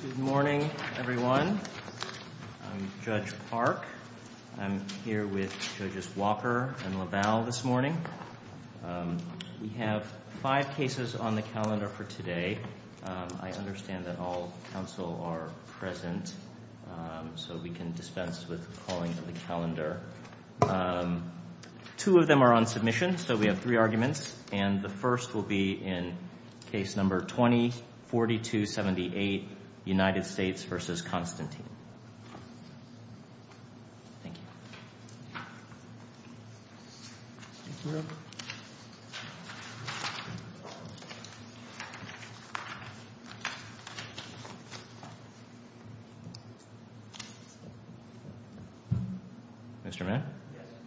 Good morning everyone. I'm Judge Park. I'm here with Judges Walker and LaValle this morning. We have five cases on the calendar for today. I understand that all counsel are present, so we can dispense with calling the calendar. Two of them are on submission, so we have three arguments, and the first will be in case number 20-4278, United States v. Constantine. Thank you.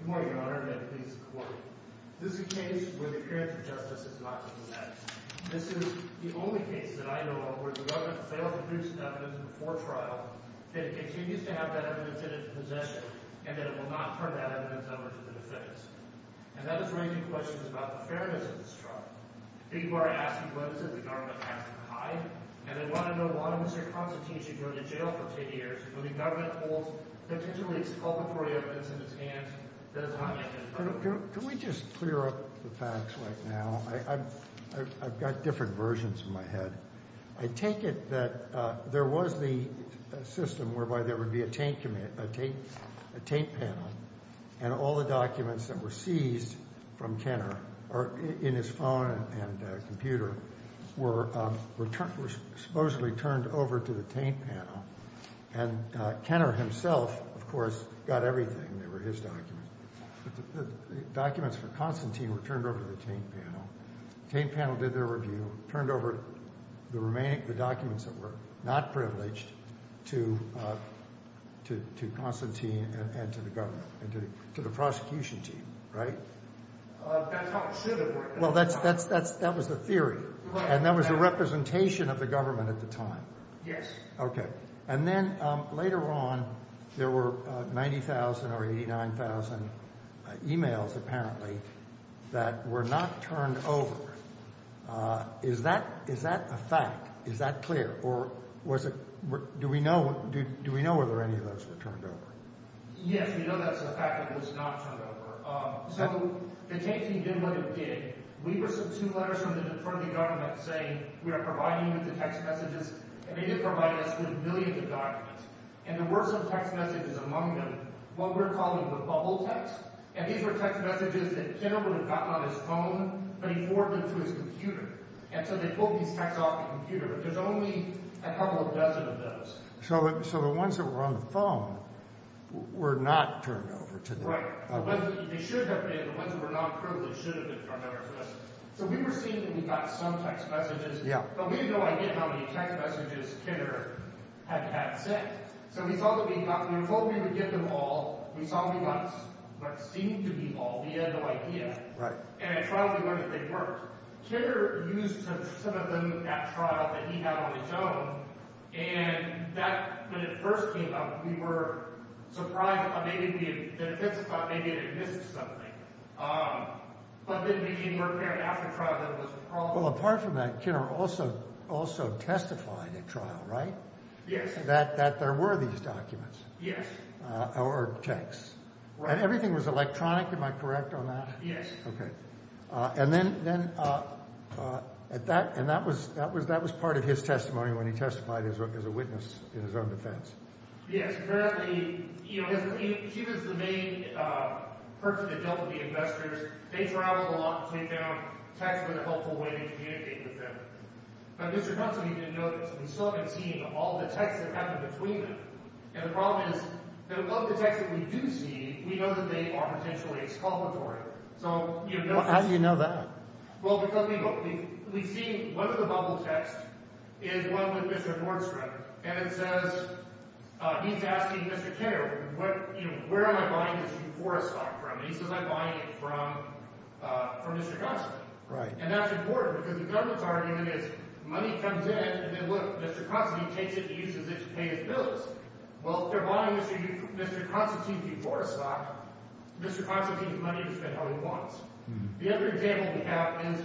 Good morning, Your Honor, and please support me. This is a case where the appearance of justice is not to be met. This is the only case that I know of where the government failed to produce enough evidence before trial that it continues to have that evidence in its possession, and that it will not turn that evidence over to the defense. And that is raising questions about the fairness of this trial. People are asking what is it the government has to hide, and they want to know why Mr. Constantine should go to jail for 10 years when the government holds potentially exculpatory evidence in its hands that has not yet been proven. Can we just clear up the facts right now? I've got different versions in my head. I take it that there was the system whereby there would be a taint panel, and all the documents that were seized from Kenner in his phone and computer were supposedly turned over to the taint panel, and Kenner himself, of course, got everything. They were his documents. The documents for Constantine were turned over to the taint panel. The taint panel did their review, turned over the remaining documents that were not privileged to Constantine and to the government and to the prosecution team, right? That's how it should have worked. Well, that was the theory, and that was the representation of the government at the time. Yes. Okay. And then later on, there were 90,000 or 89,000 e-mails apparently that were not turned over. Is that a fact? Is that clear? Or do we know whether any of those were turned over? Yes, we know that's a fact that it was not turned over. So the taint team did what it did. We were sent two letters from the government saying we are providing you with the text messages, and they did provide us with millions of documents. And there were some text messages among them, what we're calling the bubble text. And these were text messages that Kenner would have gotten on his phone, but he forwarded them to his computer. And so they pulled these texts off the computer. There's only a couple dozen of those. So the ones that were on the phone were not turned over to them. Right. They should have been. The ones that were non-approval should have been turned over to us. So we were seeing that we got some text messages, but we had no idea how many text messages Kenner had sent. So we thought we would give them all. We saw we got what seemed to be all. We had no idea. And at trial, we learned that they weren't. Kenner used some of them at trial that he had on his own. And that, when it first came up, we were surprised that maybe the defense thought maybe it had missed something. But then we came to learn after trial that it was a problem. Well, apart from that, Kenner also testified at trial, right? Yes. That there were these documents. Yes. Or texts. Right. And everything was electronic, am I correct on that? Yes. Okay. And then at that, and that was part of his testimony when he testified as a witness in his own defense. Yes. Apparently, you know, he was the main person that dealt with the investors. They traveled a lot to take down texts in a helpful way to communicate with them. But Mr. Huntsman, you know, we still haven't seen all the texts that happened between them. And the problem is that a lot of the texts that we do see, we know that they are potentially exculpatory. How do you know that? Well, because we see one of the bubble texts is one with Mr. Nordstrom. And it says – he's asking Mr. Kenner, you know, where am I buying this UFORA stock from? And he says, I'm buying it from Mr. Constantine. Right. And that's important because the government's argument is money comes in and then, look, Mr. Constantine takes it and uses it to pay his bills. Well, if they're buying Mr. Constantine's UFORA stock, Mr. Constantine has money to spend how he wants. The other example we have is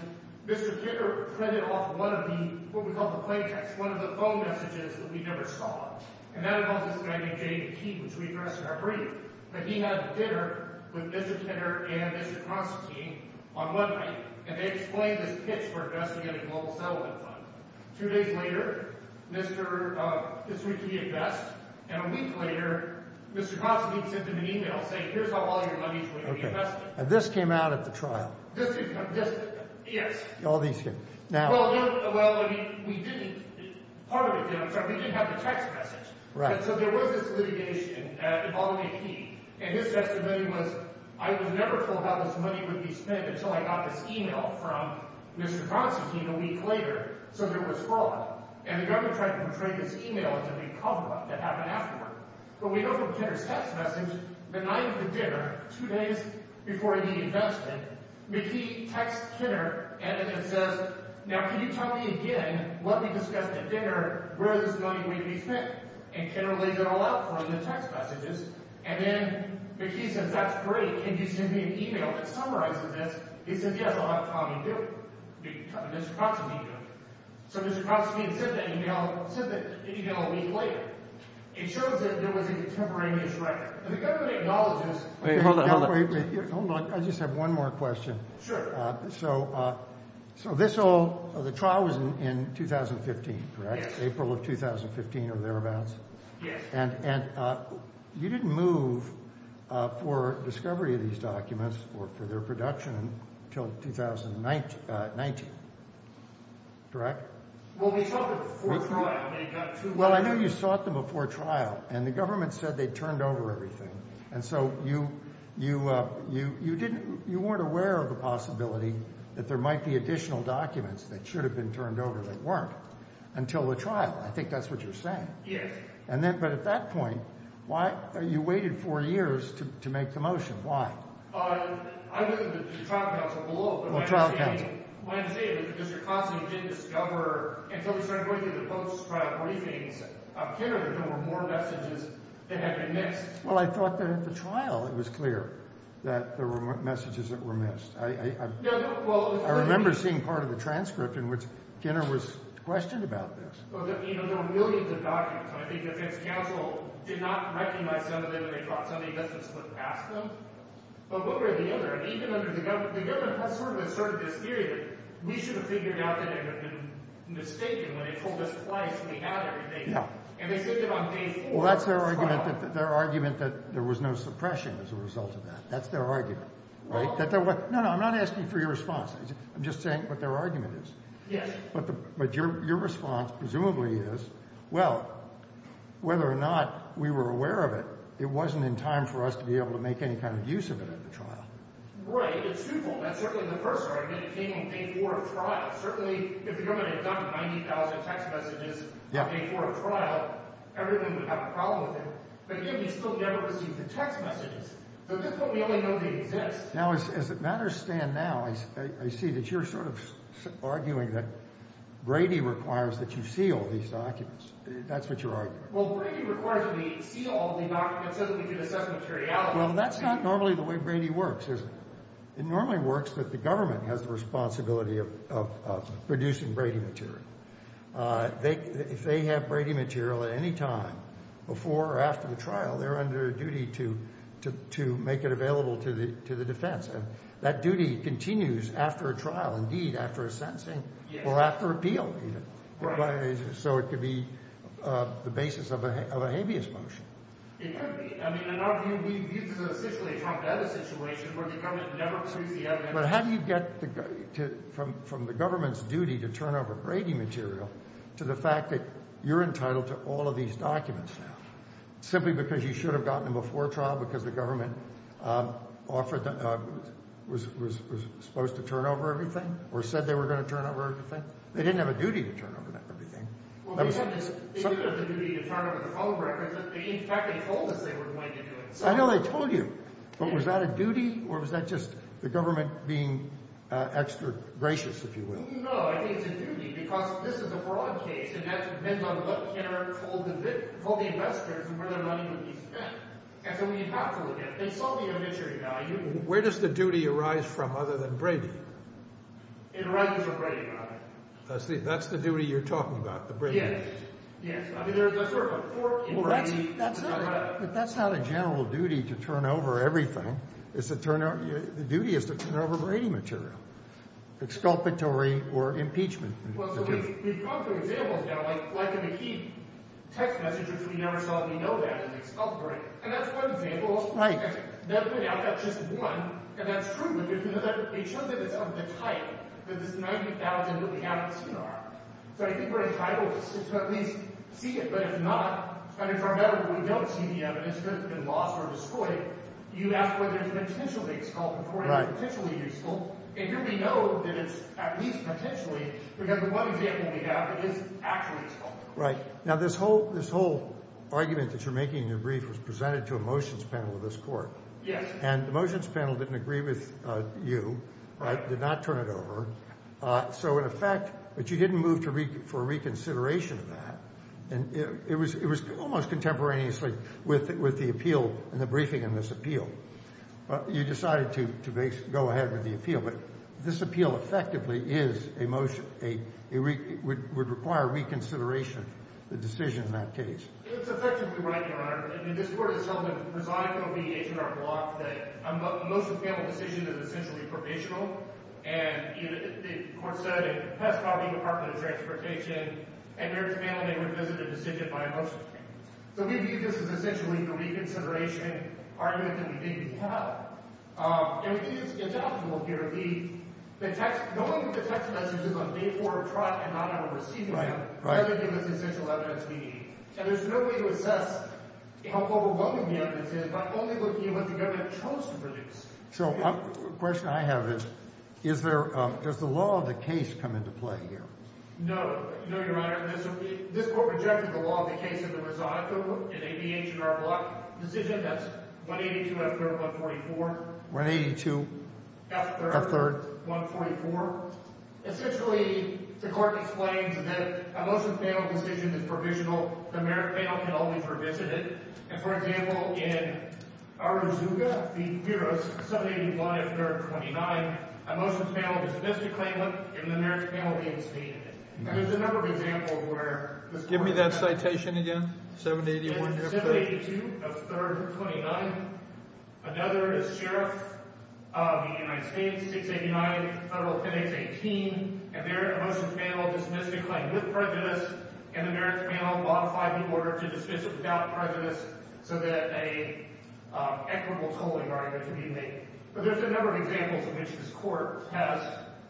Mr. Kenner printed off one of the – what we call the play texts, one of the phone messages that we never saw. And that involves this guy named Jamie Keaton, which we addressed in our brief. But he had dinner with Mr. Kenner and Mr. Constantine on one night, and they explained the pitch for investing in a global settlement fund. Two days later, Mr. – this would be a vest. And a week later, Mr. Constantine sent him an email saying, here's how all your money is going to be invested. And this came out at the trial. This – yes. All these here. Now – Well, we didn't – part of it did. I'm sorry. We didn't have the text message. Right. And so there was this litigation involving a key. And his testimony was, I was never told how this money would be spent until I got this email from Mr. Constantine a week later, so there was fraud. And the government tried to portray this email as a big cover-up that happened afterward. But we know from Kenner's text message, the night of the dinner, two days before the investment, McKee texts Kenner and says, now can you tell me again, let me discuss at dinner where this money would be spent. And Kenner laid it all out for him in the text messages. And then McKee says, that's great. Can you send me an email that summarizes this? He says, yes, I'll have Tommy do it. Mr. Constantine did it. So Mr. Constantine sent that email a week later. It shows that there was a contemporaneous record. And the government acknowledges – Wait. Hold on. Hold on. I just have one more question. Sure. So this all – the trial was in 2015, correct? Yes. April of 2015 or thereabouts? Yes. And you didn't move for discovery of these documents or for their production until 2019, correct? Well, we sought them before trial. Well, I know you sought them before trial. And the government said they'd turned over everything. And so you didn't – you weren't aware of the possibility that there might be additional documents that should have been turned over that weren't until the trial. I think that's what you're saying. Yes. And then – but at that point, why – you waited four years to make the motion. Why? I looked at the trial counsel below. Well, trial counsel. What I'm saying is that Mr. Constantine didn't discover until he started going through the post-trial briefings of Kenner that there were more messages that had been missed. Well, I thought that at the trial it was clear that there were messages that were missed. I remember seeing part of the transcript in which Kenner was questioned about this. Well, there were millions of documents. I think the defense counsel did not recognize some of them that they dropped. Some of the evidence was put past them. But one way or the other, even under the – the government has sort of asserted this theory that we should have figured out that it had been mistaken when they told us twice we had everything. And they said that on day four of trial. Well, that's their argument that – their argument that there was no suppression as a result of that. That's their argument, right? Well – No, no. I'm not asking for your response. I'm just saying what their argument is. Yes. But your response presumably is, well, whether or not we were aware of it, it wasn't in time for us to be able to make any kind of use of it at the trial. Right. It's truthful. That's certainly the first argument. It came on day four of trial. Certainly if the government had done 90,000 text messages – Yeah. – day four of trial, everyone would have a problem with it. But yet we still never received the text messages. So this is what we only know they exist. Now, as matters stand now, I see that you're sort of arguing that Brady requires that you seal these documents. That's what you're arguing. Well, Brady requires that we seal all the documents so that we can assess materiality. Well, that's not normally the way Brady works, is it? It normally works that the government has the responsibility of producing Brady material. If they have Brady material at any time before or after the trial, they're under a duty to make it available to the defense. And that duty continues after a trial, indeed, after a sentencing or after appeal even. Right. So it could be the basis of a habeas motion. It could be. I mean, in our view, this is essentially a trumped-out situation where the government never receives the evidence. But how do you get from the government's duty to turn over Brady material to the fact that you're entitled to all of these documents now, simply because you should have gotten them before trial because the government offered – was supposed to turn over everything or said they were going to turn over everything? They didn't have a duty to turn over everything. Well, they did have the duty to turn over the phone records. In fact, they told us they were going to do it. I know they told you. But was that a duty or was that just the government being extra gracious, if you will? No, I think it's a duty because this is a broad case, and that depends on what can or can't hold the investors and where their money would be spent. And so we have to look at it. They sold the obituary value. Where does the duty arise from other than Brady? It arises with Brady. I see. That's the duty you're talking about, the Brady case. Yes. I mean, there's a sort of a core in Brady. But that's not a general duty to turn over everything. It's a turn – the duty is to turn over Brady material, exculpatory or impeachment. Well, so we've come to examples now, like in the key text messages we never saw that we know that is exculpatory. And that's one example. Right. That's just one, and that's true. It shows that it's of the type, that this 90,000 that we haven't seen are. So I think we're entitled to at least see it. But if not, and if we don't see the evidence that it's been lost or destroyed, you ask whether it's potentially exculpatory or potentially useful. And here we know that it's at least potentially because the one example we have is actually exculpatory. Right. Now, this whole argument that you're making in your brief was presented to a motions panel of this court. Yes. And the motions panel didn't agree with you. Right. Did not turn it over. So in effect – but you didn't move for a reconsideration of that. And it was almost contemporaneously with the appeal and the briefing in this appeal. You decided to go ahead with the appeal. But this appeal effectively is a – would require reconsideration of the decision in that case. It's effectively right, Your Honor. I mean, this court itself has resigned from being an H.R. block. The motions panel decision is essentially provisional. And the court said it passed by the Department of Transportation. And their panel may revisit a decision by a motions panel. So we view this as essentially the reconsideration argument that we think we have. And it's doubtful here. The text – the only way the text message is on day four of trial and not on a receiving end. Right, right. That would give us essential evidence we need. And there's no way to assess how overwhelming the evidence is by only looking at what the government chose to produce. So a question I have is, is there – does the law of the case come into play here? No. No, Your Honor. This court rejected the law of the case of the Rosado in a B.H.R. block decision. That's 182 F. 3rd 144. 182 F. 3rd 144. Essentially, the court explains that a motions panel decision is provisional. The merit panel can only revisit it. And, for example, in Arauzuga v. Piros, 781 F. 3rd 29, a motions panel dismissed a claimant. And the merit panel reinstated it. And there's a number of examples where – Give me that citation again. 781 F. 3rd – 782 F. 3rd 29. Another is Sheriff of the United States, 689 F. 10x 18. A motions panel dismissed a claim with prejudice, and the merit panel modified the order to dismiss it without prejudice so that an equitable tolling argument can be made. But there's a number of examples in which this court has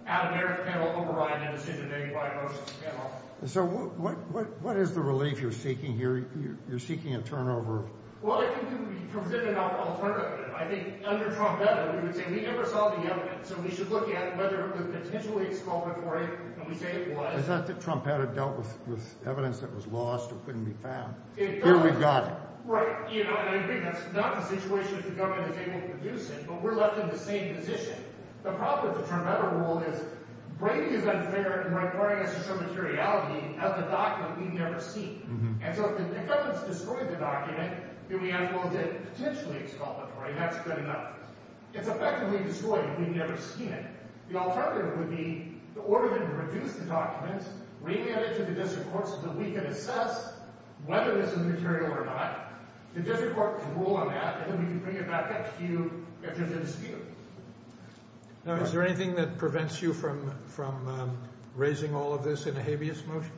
had a merit panel override a decision made by a motions panel. So what is the relief you're seeking here? You're seeking a turnover? Well, I think we would be presenting an alternative. I think under Trumpetta, we would say we never saw the evidence, so we should look at whether it was potentially exculpatory, and we say it was. I thought that Trumpetta dealt with evidence that was lost or couldn't be found. Here, we've got it. Right. I agree. That's not the situation if the government is able to produce it, but we're left in the same position. The problem with the Trumpetta rule is Brady is unfair in requiring us to show materiality of the document we've never seen. And so if the government has destroyed the document, then we ask, well, is it potentially exculpatory? That's good enough. It's effectively destroyed. We've never seen it. The alternative would be in order to produce the documents, we hand it to the district courts so that we can assess whether this is material or not. The district court can rule on that, and then we can bring it back up to you if there's a dispute. Now, is there anything that prevents you from raising all of this in a habeas motion?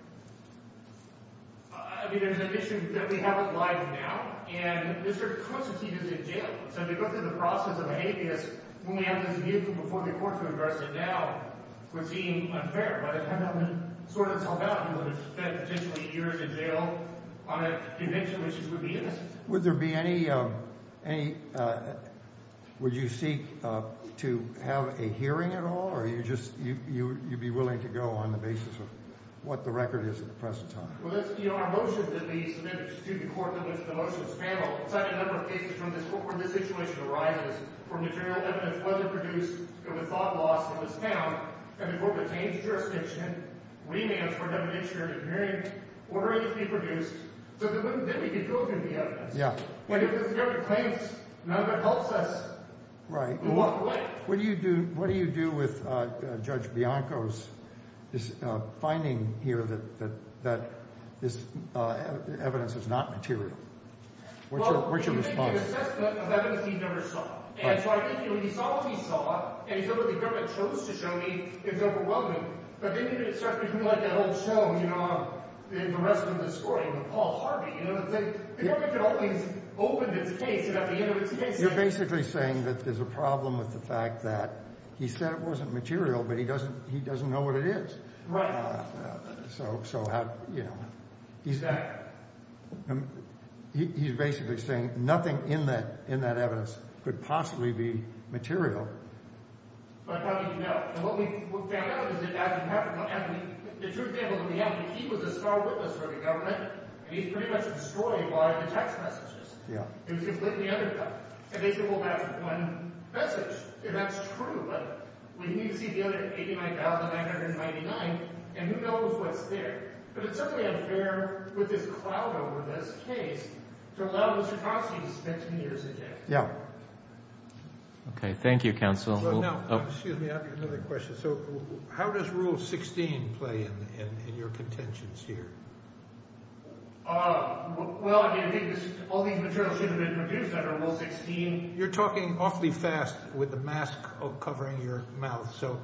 I mean, there's an issue that we have it live now, and Mr. Constantine is in jail. So to go through the process of a habeas when we have a dispute before the court can address it now would seem unfair. By the time that would sort itself out, he would have spent potentially years in jail on a conviction which would be innocent. Would there be any – would you seek to have a hearing at all, or are you just – you'd be willing to go on the basis of what the record is at the present time? Well, that's – you know, our motion that we submitted to the court that was the motions panel cited a number of cases from this court where this situation arises where material evidence wasn't produced, it was thought loss, it was found, and the court retained the jurisdiction. We may ask for an evidentiary hearing in order for it to be produced so that we can filter the evidence. Yeah. And if the district claims none of it helps us, we'll walk away. What do you do – what do you do with Judge Bianco's finding here that this evidence is not material? What's your response? Well, he made an assessment of evidence he never saw. And so I think when he saw what he saw and he said what the government chose to show me, it was overwhelming. But then it starts to be like that whole show, you know, in the rest of the story with Paul Harvey. You know, it's like the government had always opened its case and at the end of its case – You're basically saying that there's a problem with the fact that he said it wasn't material, but he doesn't – he doesn't know what it is. Right. So – so how – you know, he's – he's basically saying nothing in that – in that evidence could possibly be material. But how do you know? And what we found out is that as it happened – and the truth is, in the end, he was a star witness for the government, and he's pretty much destroyed by the text messages. Yeah. It was completely undercut. And they could hold back one message, and that's true. But we need to see the other 89,999, and who knows what's there. But it's certainly unfair with this cloud over this case to allow Mr. Crosby to spend 10 years in jail. Yeah. Okay. Thank you, counsel. Now, excuse me, I have another question. So how does Rule 16 play in – in your contentions here? Well, I mean, I think all these materials should have been produced under Rule 16. You're talking awfully fast with the mask covering your mouth, so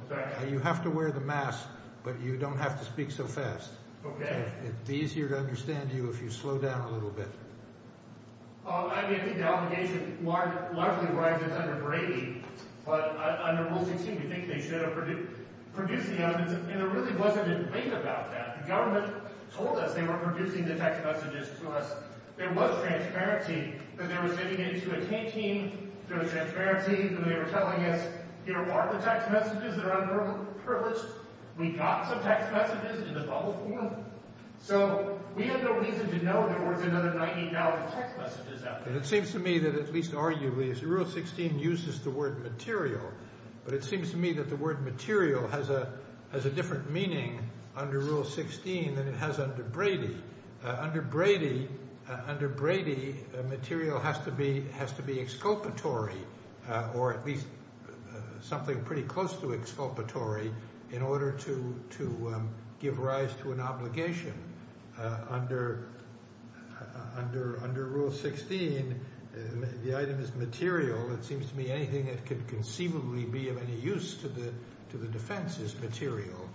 you have to wear the mask, but you don't have to speak so fast. Okay. It would be easier to understand you if you slowed down a little bit. I mean, I think the obligation largely rises under Brady, but under Rule 16 we think they should have produced the evidence, and there really wasn't a debate about that. The government told us they were producing the text messages for us. There was transparency that they were sending it to a team. There was transparency that they were telling us, here are the text messages. They're underprivileged. We got some text messages in the bubble form. So we have no reason to know there weren't another 19,000 text messages out there. It seems to me that at least arguably Rule 16 uses the word material, but it seems to me that the word material has a different meaning under Rule 16 than it has under Brady. Under Brady, material has to be exculpatory or at least something pretty close to exculpatory in order to give rise to an obligation. Under Rule 16, the item is material. It seems to me anything that could conceivably be of any use to the defense is material.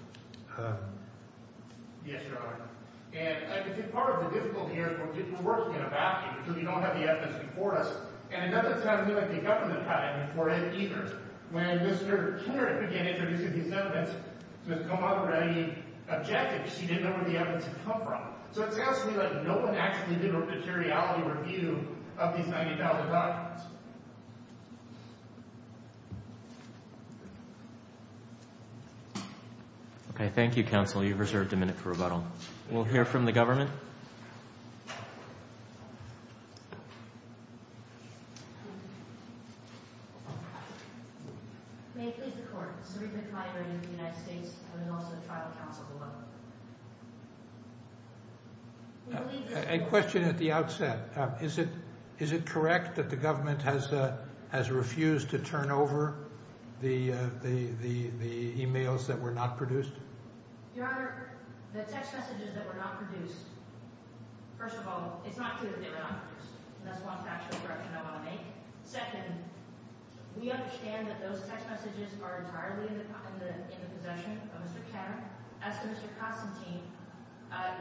Yes, Your Honor. And I can say part of the difficulty here is we're working in a vacuum because we don't have the evidence before us. And another thing is the government had it before us either. When Mr. Kinnard began introducing these evidence, Ms. Kilmonger already objected because she didn't know where the evidence had come from. So it sounds to me like no one actually did a materiality review of these 19,000 documents. Okay. Thank you, counsel. You've reserved a minute for rebuttal. We'll hear from the government. May it please the Court, the Supreme Court, the United States, and also the Tribal Council below. A question at the outset. Is it correct that the government has refused to turn over the e-mails that were not produced? Your Honor, the text messages that were not produced, first of all, it's not true that they were not produced. That's one factual correction I want to make. Second, we understand that those text messages are entirely in the possession of Mr. Kinnard. As for Mr. Constantine,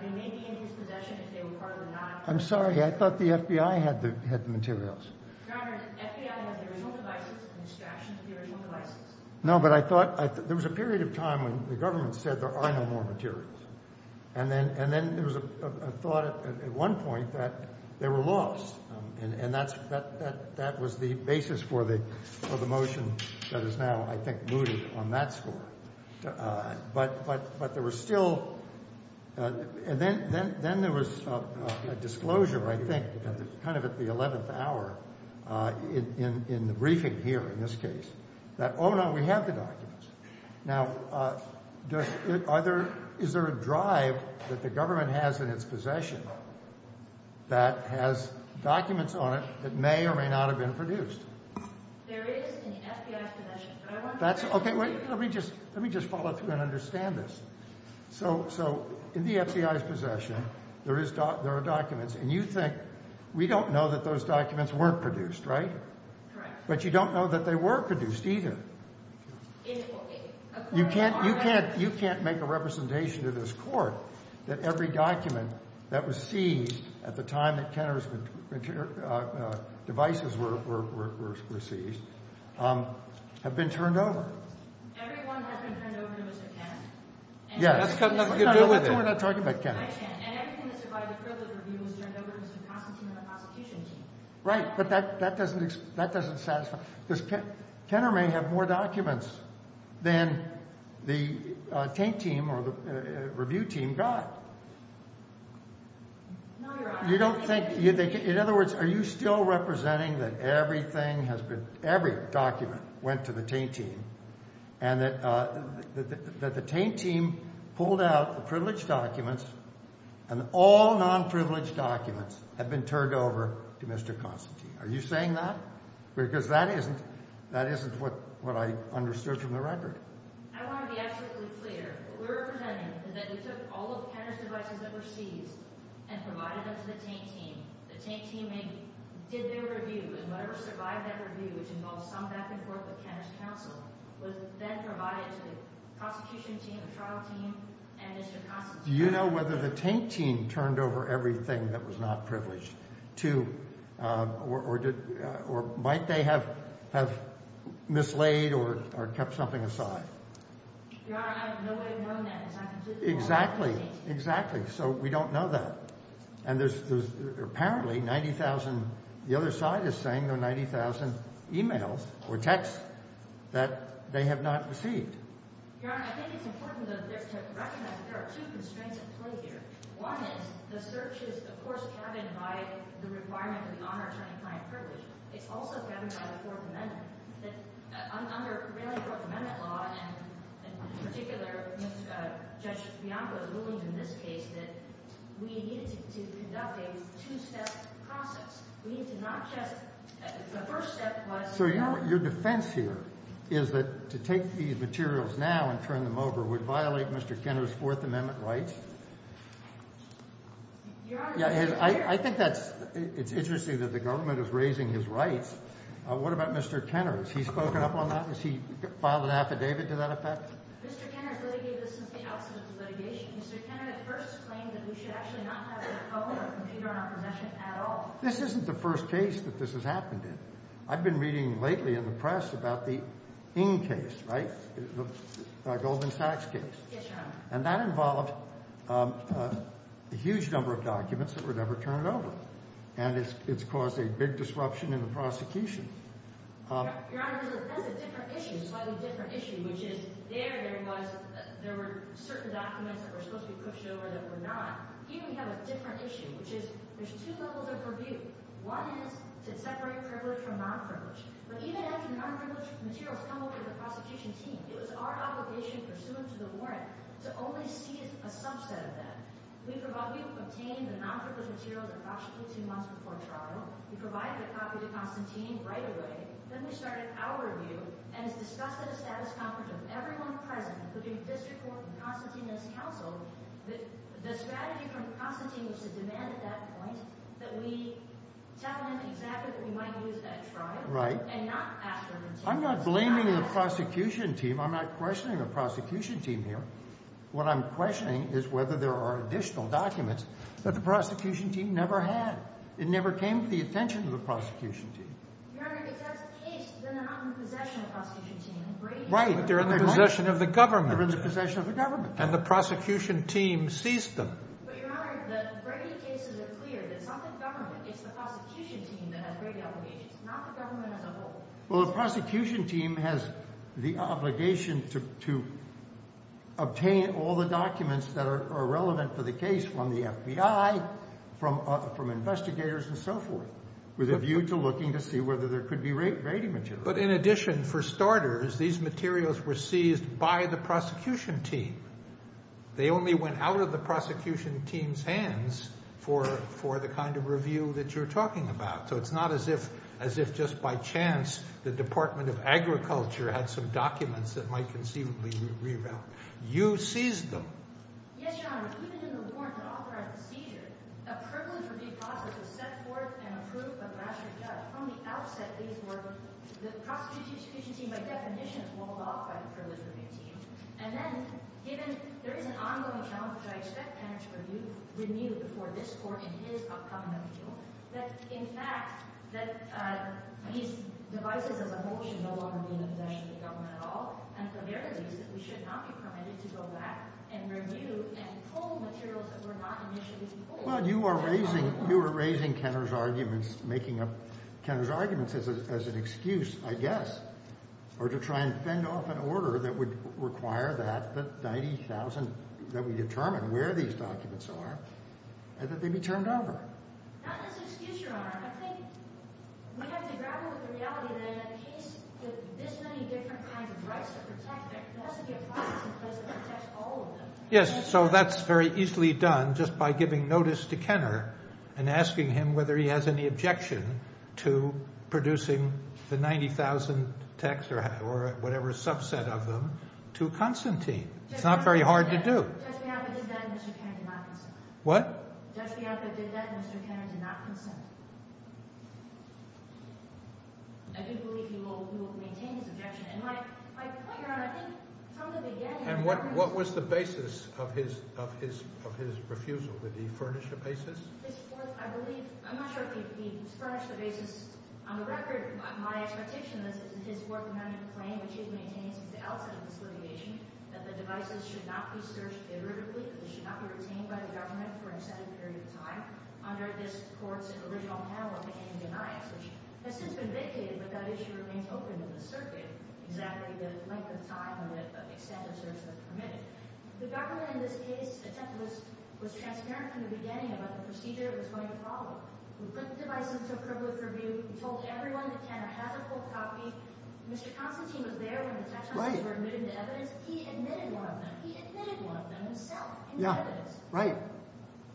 they may be in his possession if they were partly not. I'm sorry. I thought the FBI had the materials. Your Honor, the FBI has the original devices and extractions of the original devices. No, but I thought there was a period of time when the government said there are no more materials. And then there was a thought at one point that they were lost. And that was the basis for the motion that is now, I think, mooted on that score. But there was still – and then there was a disclosure, I think, kind of at the 11th hour in the briefing here in this case, that, oh, no, we have the documents. Now, are there – is there a drive that the government has in its possession that has documents on it that may or may not have been produced? There is in the FBI's possession. That's – okay, wait. Let me just follow through and understand this. So in the FBI's possession, there is – there are documents. And you think we don't know that those documents weren't produced, right? Correct. But you don't know that they were produced either. You can't – you can't make a representation to this Court that every document that was seized at the time that Kenner's devices were seized have been turned over. Everyone has been turned over except Kenner. Yes. That's got nothing to do with it. No, we're not talking about Kenner. I can't. And everything that's provided for the review was turned over to the prosecution team. Right. But that doesn't satisfy – because Kenner may have more documents than the taint team or the review team got. You don't think – in other words, are you still representing that everything has been – every document went to the taint team and that the taint team pulled out the privileged documents and all non-privileged documents have been turned over to Mr. Constantine? Are you saying that? Because that isn't – that isn't what I understood from the record. I want to be absolutely clear. What we're representing is that we took all of Kenner's devices that were seized and provided them to the taint team. The taint team did their review, and whatever survived that review, which involved some back-and-forth with Kenner's counsel, was then provided to the prosecution team, the trial team, and Mr. Constantine. Do you know whether the taint team turned over everything that was not privileged to – or might they have mislaid or kept something aside? Your Honor, I have no way of knowing that. Exactly. Exactly. So we don't know that. And there's apparently 90,000 – the other side is saying there are 90,000 emails or texts that they have not received. Your Honor, I think it's important to recognize that there are two constraints at play here. One is the search is, of course, governed by the requirement of the honor, attorney, client, and privilege. It's also governed by the Fourth Amendment. Under really Fourth Amendment law, and in particular, Judge Bianco's ruling in this case, that we needed to conduct a two-step process. We need to not just – the first step was – So your defense here is that to take these materials now and turn them over would violate Mr. Kenner's Fourth Amendment rights? Your Honor, it's clear. I think that's – it's interesting that the government is raising his rights. What about Mr. Kenner? Has he spoken up on that? Has he filed an affidavit to that effect? Mr. Kenner has litigated this since the outset of the litigation. Mr. Kenner at first claimed that we should actually not have a phone or computer in our possession at all. This isn't the first case that this has happened in. I've been reading lately in the press about the Ng case, right, the Goldman Sachs case. Yes, Your Honor. And that involved a huge number of documents that were never turned over. And it's caused a big disruption in the prosecution. Your Honor, there's a different issue, a slightly different issue, which is there there was – there were certain documents that were supposed to be pushed over that were not. Here we have a different issue, which is there's two levels of purview. One is to separate privileged from non-privileged. But even after the non-privileged materials come over to the prosecution team, it was our obligation pursuant to the warrant to only see a subset of that. We obtained the non-privileged materials approximately two months before trial. We provided a copy to Constantine right away. Then we started our review, and it's discussed at a status conference of everyone present, including the district court and Constantine and his counsel. The strategy from Constantine was to demand at that point that we tell him exactly that we might lose that trial and not ask for a return. I'm not blaming the prosecution team. I'm not questioning the prosecution team here. What I'm questioning is whether there are additional documents that the prosecution team never had. It never came to the attention of the prosecution team. Your Honor, if that's the case, then they're not in possession of the prosecution team. Right, but they're in the possession of the government. They're in the possession of the government. And the prosecution team seized them. But, Your Honor, the Brady cases are clear that it's not the government. It's the prosecution team that has Brady obligations, not the government as a whole. Well, the prosecution team has the obligation to obtain all the documents that are relevant for the case from the FBI, from investigators, and so forth, with a view to looking to see whether there could be Brady materials. But in addition, for starters, these materials were seized by the prosecution team. They only went out of the prosecution team's hands for the kind of review that you're talking about. So it's not as if just by chance the Department of Agriculture had some documents that might conceivably be relevant. You seized them. Yes, Your Honor, even in the warrant to authorize the seizure, a privilege review process was set forth and approved by the rational judge. From the outset, these were – the prosecution team, by definition, is walled off by the privilege review team. And then, given there is an ongoing challenge, which I expect Kenner to review before this court in his upcoming appeal, that, in fact, that these devices as a whole should no longer be in possession of the government at all. And for their reasons, we should not be permitted to go back and review and pull materials that were not initially pulled. Well, you are raising – you are raising Kenner's arguments, making up Kenner's arguments as an excuse, I guess, or to try and fend off an order that would require that 90,000 – that would determine where these documents are and that they be turned over. Not as an excuse, Your Honor. I think we have to grapple with the reality that in a case with this many different kinds of rights to protect, there has to be a process in place that protects all of them. Yes, so that's very easily done just by giving notice to Kenner and asking him whether he has any objection to producing the 90,000 texts or whatever subset of them to Constantine. It's not very hard to do. Just because I did that, Mr. Kenner did not consent. What? Just because I did that, Mr. Kenner did not consent. I do believe he will maintain his objection. And my point, Your Honor, I think from the beginning – And what was the basis of his refusal? Did he furnish a basis? His fourth – I believe – I'm not sure if he furnished a basis. On the record, my expectation is that his fourth amendment claim, which he has maintained since the outset of this litigation, that the devices should not be searched iteratively, that they should not be retained by the government for an extended period of time under this court's original panel of opinion denials, which has since been vacated, but that issue remains open in the circuit, exactly the length of time and the extent of search that is permitted. The government, in this case, was transparent from the beginning about the procedure it was going to follow. We put the devices to a privileged review. We told everyone that Kenner has a full copy. Mr. Constantine was there when the text messages were admitted into evidence. He admitted one of them. He admitted one of them himself into evidence. Yeah, right.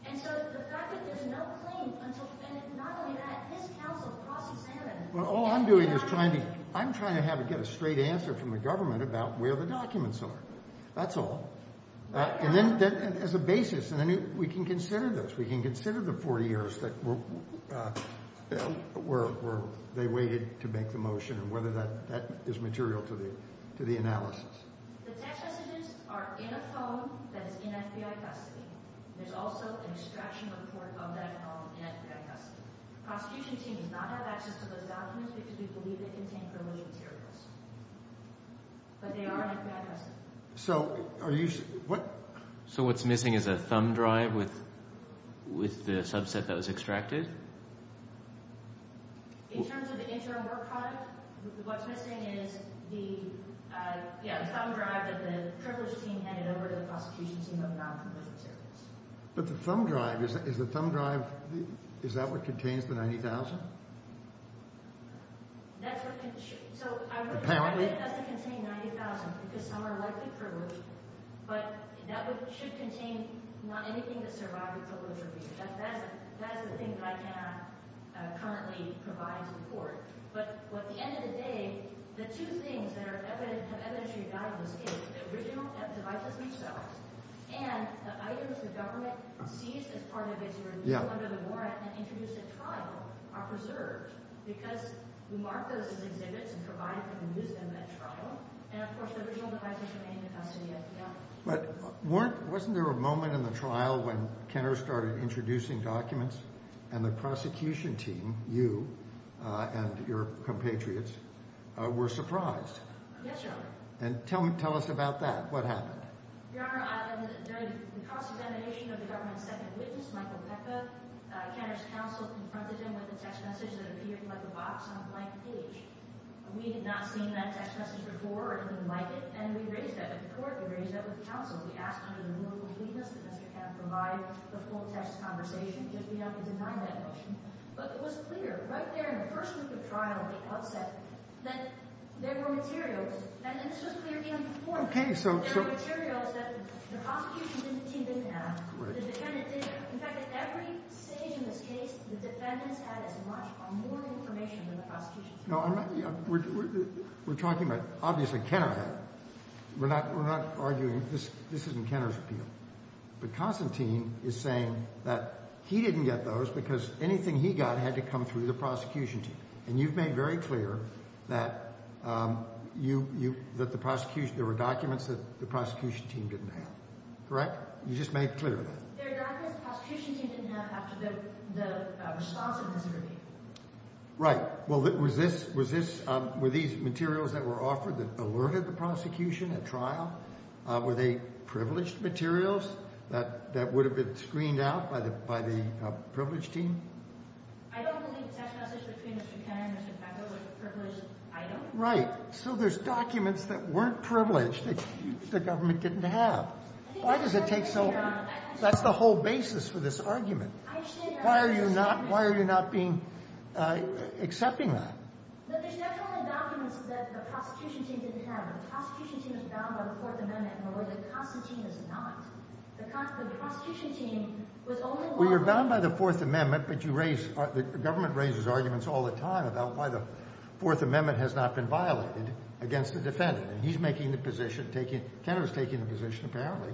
And so the fact that there's no claim until – and not only that, his counsel, Crossy Sandeman – Well, all I'm doing is trying to – I'm trying to have – get a straight answer from the government about where the documents are. That's all. And then – as a basis, and then we can consider this. We can consider the 40 years that were – they waited to make the motion and whether that is material to the analysis. The text messages are in a phone that is in FBI custody. There's also an extraction report of that phone in FBI custody. The prosecution team does not have access to those documents because we believe they contain privileged materials. But they are in FBI custody. So are you – what – So what's missing is a thumb drive with the subset that was extracted? In terms of the interim work product, what's missing is the – yeah, the thumb drive that the privileged team handed over to the prosecution team of non-privileged materials. But the thumb drive – is the thumb drive – is that what contains the $90,000? That's what – so I would – Apparently. It doesn't contain $90,000 because some are likely privileged. But that should contain not anything that survived the privilege review. But wasn't there a moment in the trial when Kenner started introducing documents? And the prosecution team, you and your compatriots, were surprised. Yes, Your Honor. And tell us about that. What happened? Your Honor, during the cross-examination of the government's second witness, Michael Pecca, Kenner's counsel confronted him with a text message that appeared like a box on a blank page. We had not seen that text message before or anything like it. And we raised that with the court. We raised that with counsel. We asked under the rule of completeness that Mr. Kenner provide the full text conversation. Yes, we have. We denied that motion. But it was clear right there in the first week of trial at the outset that there were materials – and this was clear before. Okay. So – There were materials that the prosecution team didn't have. Correct. The defendant didn't have. In fact, at every stage in this case, the defendants had as much or more information than the prosecution team. No, I'm not – we're talking about, obviously, Kenner had. We're not arguing – this isn't Kenner's appeal. But Constantine is saying that he didn't get those because anything he got had to come through the prosecution team. And you've made very clear that you – that the prosecution – there were documents that the prosecution team didn't have. Correct? You just made clear of that. There are documents the prosecution team didn't have after the response of Mr. Pecca. Right. Well, was this – were these materials that were offered that alerted the prosecution at trial? Were they privileged materials that would have been screened out by the privileged team? I don't believe the text message between Mr. Kenner and Mr. Pecca was a privileged item. Right. So there's documents that weren't privileged that the government didn't have. Why does it take so – that's the whole basis for this argument. Why are you not – why are you not being – accepting that? Well, you're bound by the Fourth Amendment, but you raise – the government raises arguments all the time about why the Fourth Amendment has not been violated against the defendant. And he's making the position – Kenner's taking the position, apparently,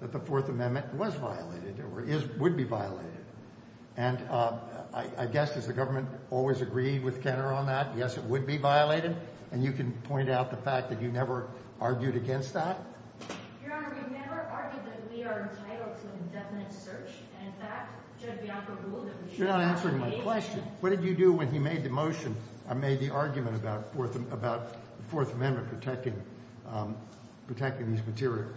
that the And I guess, does the government always agree with Kenner on that? Yes, it would be violated. And you can point out the fact that you never argued against that? You're not answering my question. What did you do when he made the motion – made the argument about the Fourth Amendment protecting these materials?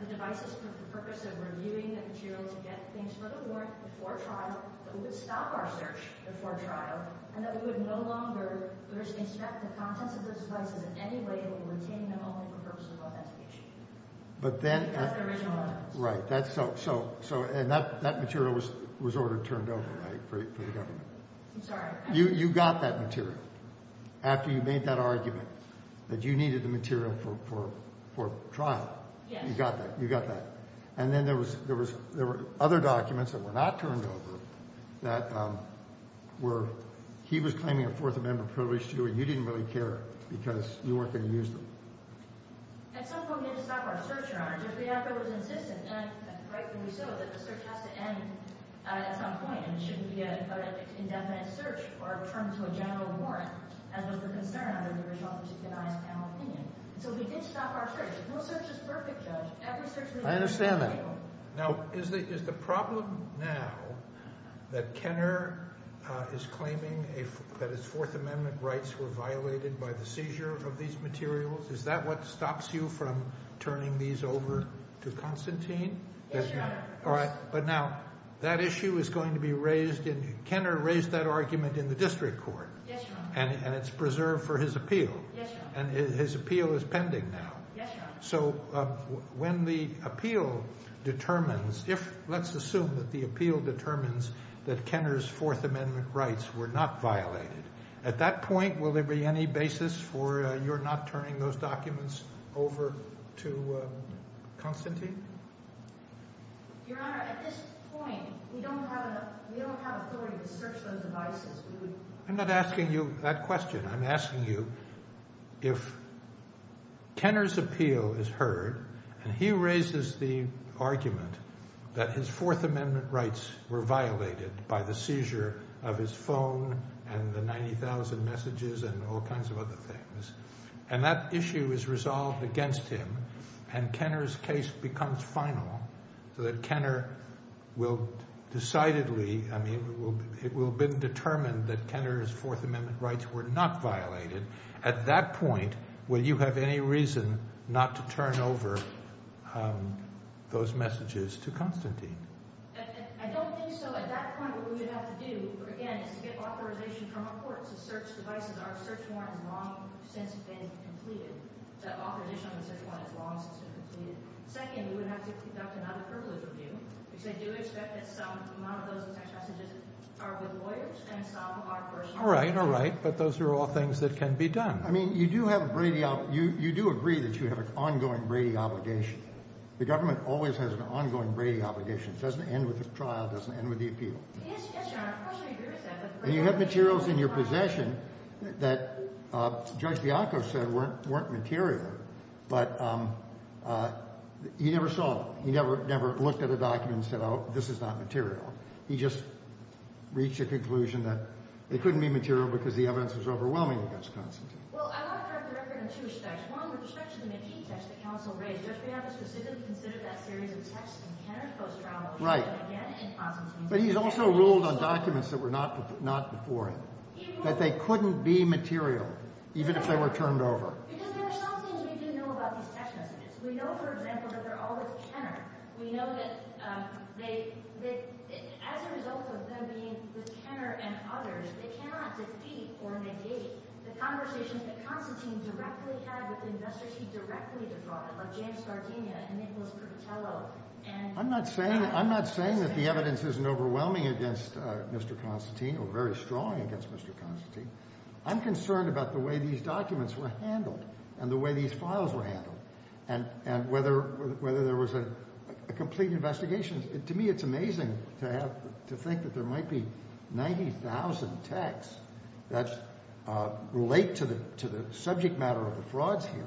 The devices for the purpose of reviewing the material to get things further warranted before trial, that would stop our search before trial, and that we would no longer – we would inspect the contents of those devices in any way that would retain them only for the purpose of authentication. But then – Right. So – and that material was ordered turned over, right, for the government? I'm sorry? You got that material after you made that argument, that you needed the material for trial. Yes. You got that. You got that. And then there was – there were other documents that were not turned over that were – he was claiming a Fourth Amendment privilege to you, and you didn't really care because you weren't going to use them. At some point, we had to stop our search, Your Honor, just after it was insistent. And rightfully so, that the search has to end at some point, and it shouldn't be an indefinite search or a term to a general warrant, as was the concern under the original opinion. So we did stop our search. No search is perfect, Judge. Every search – I understand that. Now, is the problem now that Kenner is claiming that his Fourth Amendment rights were violated by the seizure of these materials? Is that what stops you from turning these over to Constantine? Yes, Your Honor. All right. But now, that issue is going to be raised in – Kenner raised that argument in the district court. Yes, Your Honor. And it's preserved for his appeal. Yes, Your Honor. And his appeal is pending now. Yes, Your Honor. So when the appeal determines – if – let's assume that the appeal determines that Kenner's Fourth Amendment rights were not violated. At that point, will there be any basis for your not turning those documents over to Constantine? Your Honor, at this point, we don't have authority to search those devices. I'm not asking you that question. I'm asking you if Kenner's appeal is heard, and he raises the argument that his Fourth Amendment rights were violated by the seizure of his phone and the 90,000 messages and all kinds of other things, and that issue is resolved against him, and Kenner's case becomes final so that Kenner will decidedly – I mean, it will have been determined that Kenner's Fourth Amendment rights were not violated. At that point, will you have any reason not to turn over those messages to Constantine? I don't think so. At that point, what we would have to do, again, is to get authorization from a court to search the devices. Our search warrant is long since been completed. The authorization on the search warrant is long since been completed. Second, we would have to conduct another privilege review, which I do expect that some of those text messages are with lawyers and some are personal. All right. All right. But those are all things that can be done. I mean, you do have Brady – you do agree that you have an ongoing Brady obligation. The government always has an ongoing Brady obligation. It doesn't end with a trial. It doesn't end with the appeal. Yes, Your Honor. Of course, I agree with that, but Brady – And you have materials in your possession that Judge Bianco said weren't material, but he never saw them. He never looked at a document and said, oh, this is not material. He just reached a conclusion that it couldn't be material because the evidence was overwhelming against Constantine. Well, I want to correct the record in two respects. One, with respect to the McKee text that counsel raised, Judge Bianco specifically considered that series of texts in Kenner's post-trial motion. Right. But he's also ruled on documents that were not before him that they couldn't be material even if they were turned over. Because there are some things we do know about these text messages. We know, for example, that they're all with Kenner. We know that they – as a result of them being with Kenner and others, they cannot defeat or negate the conversations that Constantine directly had with investors he directly defrauded, like James Sardinia and Nicholas Pertello and – I'm not saying – I'm not saying that the evidence isn't overwhelming against Mr. Constantine or very strong against Mr. Constantine. I'm concerned about the way these documents were handled and the way these files were handled and whether there was a complete investigation. To me, it's amazing to have – to think that there might be 90,000 texts that relate to the subject matter of the frauds here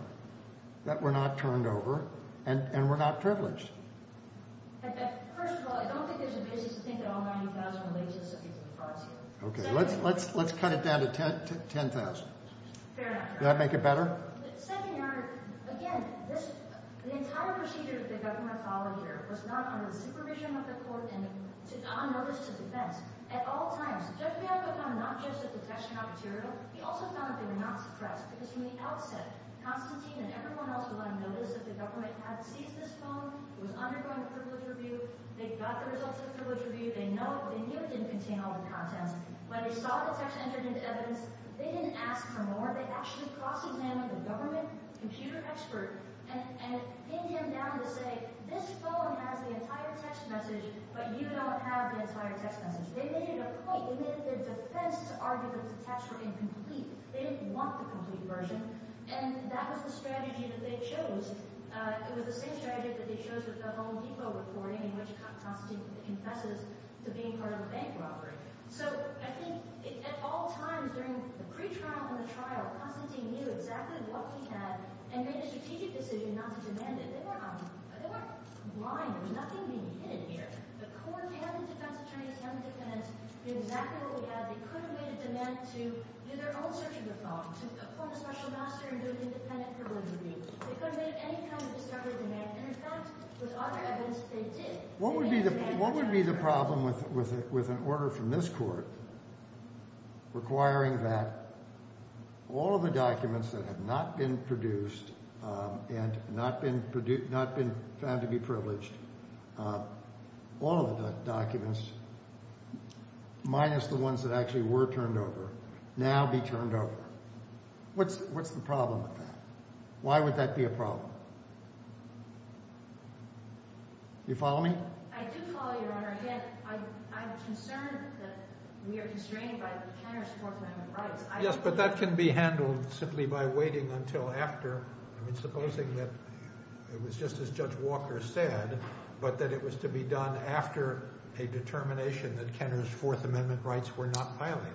that were not turned over and were not privileged. First of all, I don't think there's a basis to think that all 90,000 relate to the subject of the frauds here. Okay. Let's cut it down to 10,000. Fair enough. Does that make it better? Second, your Honor, again, this – the entire procedure that the government followed here was not under the supervision of the court and on notice to defense. At all times, Judge Bianco found not just that the texts were not material. He also found that they were not suppressed because from the outset, Constantine and everyone else were letting notice that the government had seized this phone. It was undergoing a privilege review. They got the results of the privilege review. They knew it didn't contain all the contents. When they saw the text entered into evidence, they didn't ask for more. They actually cross-examined the government computer expert and pinned him down to say, this phone has the entire text message, but you don't have the entire text message. They made it a point. They made it their defense to argue that the texts were incomplete. They didn't want the complete version, and that was the strategy that they chose. It was the same strategy that they chose with the Home Depot recording in which Constantine confesses to being part of a bank robbery. So I think at all times during the pretrial and the trial, Constantine knew exactly what he had and made a strategic decision not to demand it. They weren't blind. There was nothing being hidden here. The court and the defense attorneys and the defendants knew exactly what we had. They couldn't make a demand to do their own search of the phone, to form a special master and do an independent privilege review. They couldn't make any kind of discovery demand. And in fact, with other evidence, they did. What would be the problem with an order from this court requiring that all of the documents that have not been produced and not been found to be privileged, all of the documents minus the ones that actually were turned over, now be turned over? What's the problem with that? Why would that be a problem? Do you follow me? I do follow you, Your Honor. Again, I'm concerned that we are constrained by Kenner's Fourth Amendment rights. Yes, but that can be handled simply by waiting until after. I mean, supposing that it was just as Judge Walker said, but that it was to be done after a determination that Kenner's Fourth Amendment rights were not violated.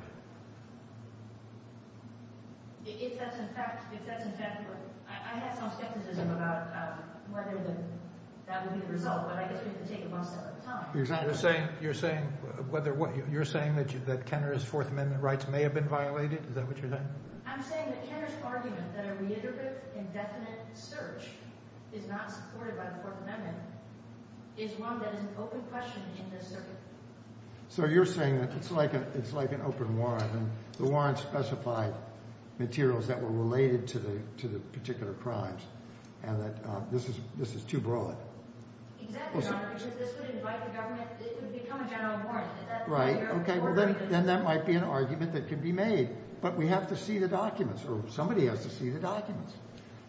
If that's in fact true. I have some skepticism about whether that would be the result, but I guess we could take it one step at a time. You're saying that Kenner's Fourth Amendment rights may have been violated? Is that what you're saying? I'm saying that Kenner's argument that a reiterative, indefinite search is not supported by the Fourth Amendment is one that is an open question in this circuit. So you're saying that it's like an open warrant, and the warrant specified materials that were related to the particular crimes, and that this is too broad. Exactly, Your Honor, because this would invite the government. It would become a general warrant. Right, okay. Then that might be an argument that could be made, but we have to see the documents, or somebody has to see the documents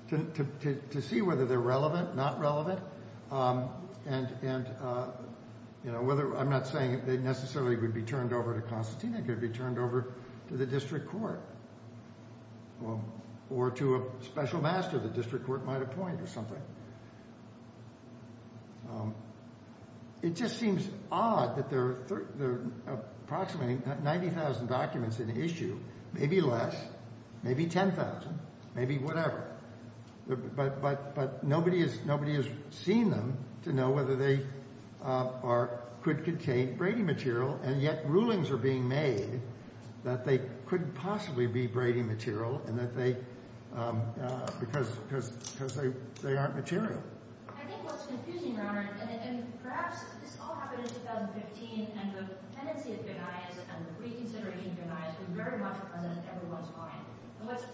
to see whether they're relevant, not relevant, and whether, I'm not saying they necessarily would be turned over to Constantine, they could be turned over to the district court, or to a special master the district court might appoint or something. It just seems odd that there are approximately 90,000 documents in issue, maybe less, maybe 10,000, maybe whatever, but nobody has seen them to know whether they are, could contain Brady material, and yet rulings are being made that they couldn't possibly be Brady material and that they, because they aren't material. I think what's confusing, Your Honor, and perhaps this all happened in 2015, and the tendency of Judaism and the reconsideration of Judaism is very much present in everyone's mind, and what's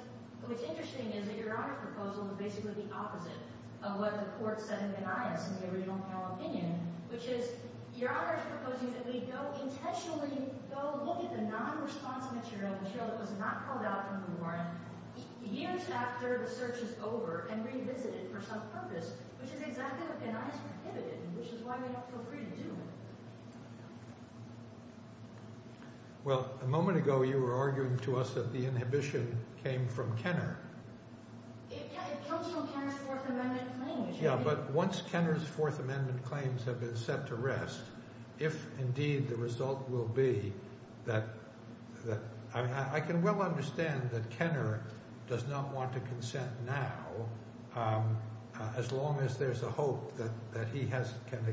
interesting is that Your Honor's proposal is basically the opposite of what the court said in Gnaeus in the original panel opinion, which is Your Honor is proposing that we go intentionally, go look at the non-response material, material that was not called out from the warrant years after the search is over and revisit it for some purpose, which is exactly what Gnaeus prohibited, which is why we don't feel free to do. Well, a moment ago you were arguing to us that the inhibition came from Kenner. It comes from Kenner's Fourth Amendment claims. Yeah, but once Kenner's Fourth Amendment claims have been set to rest, if indeed the result will be that, I mean, I can well understand that Kenner does not want to consent now as long as there's a hope that he has, can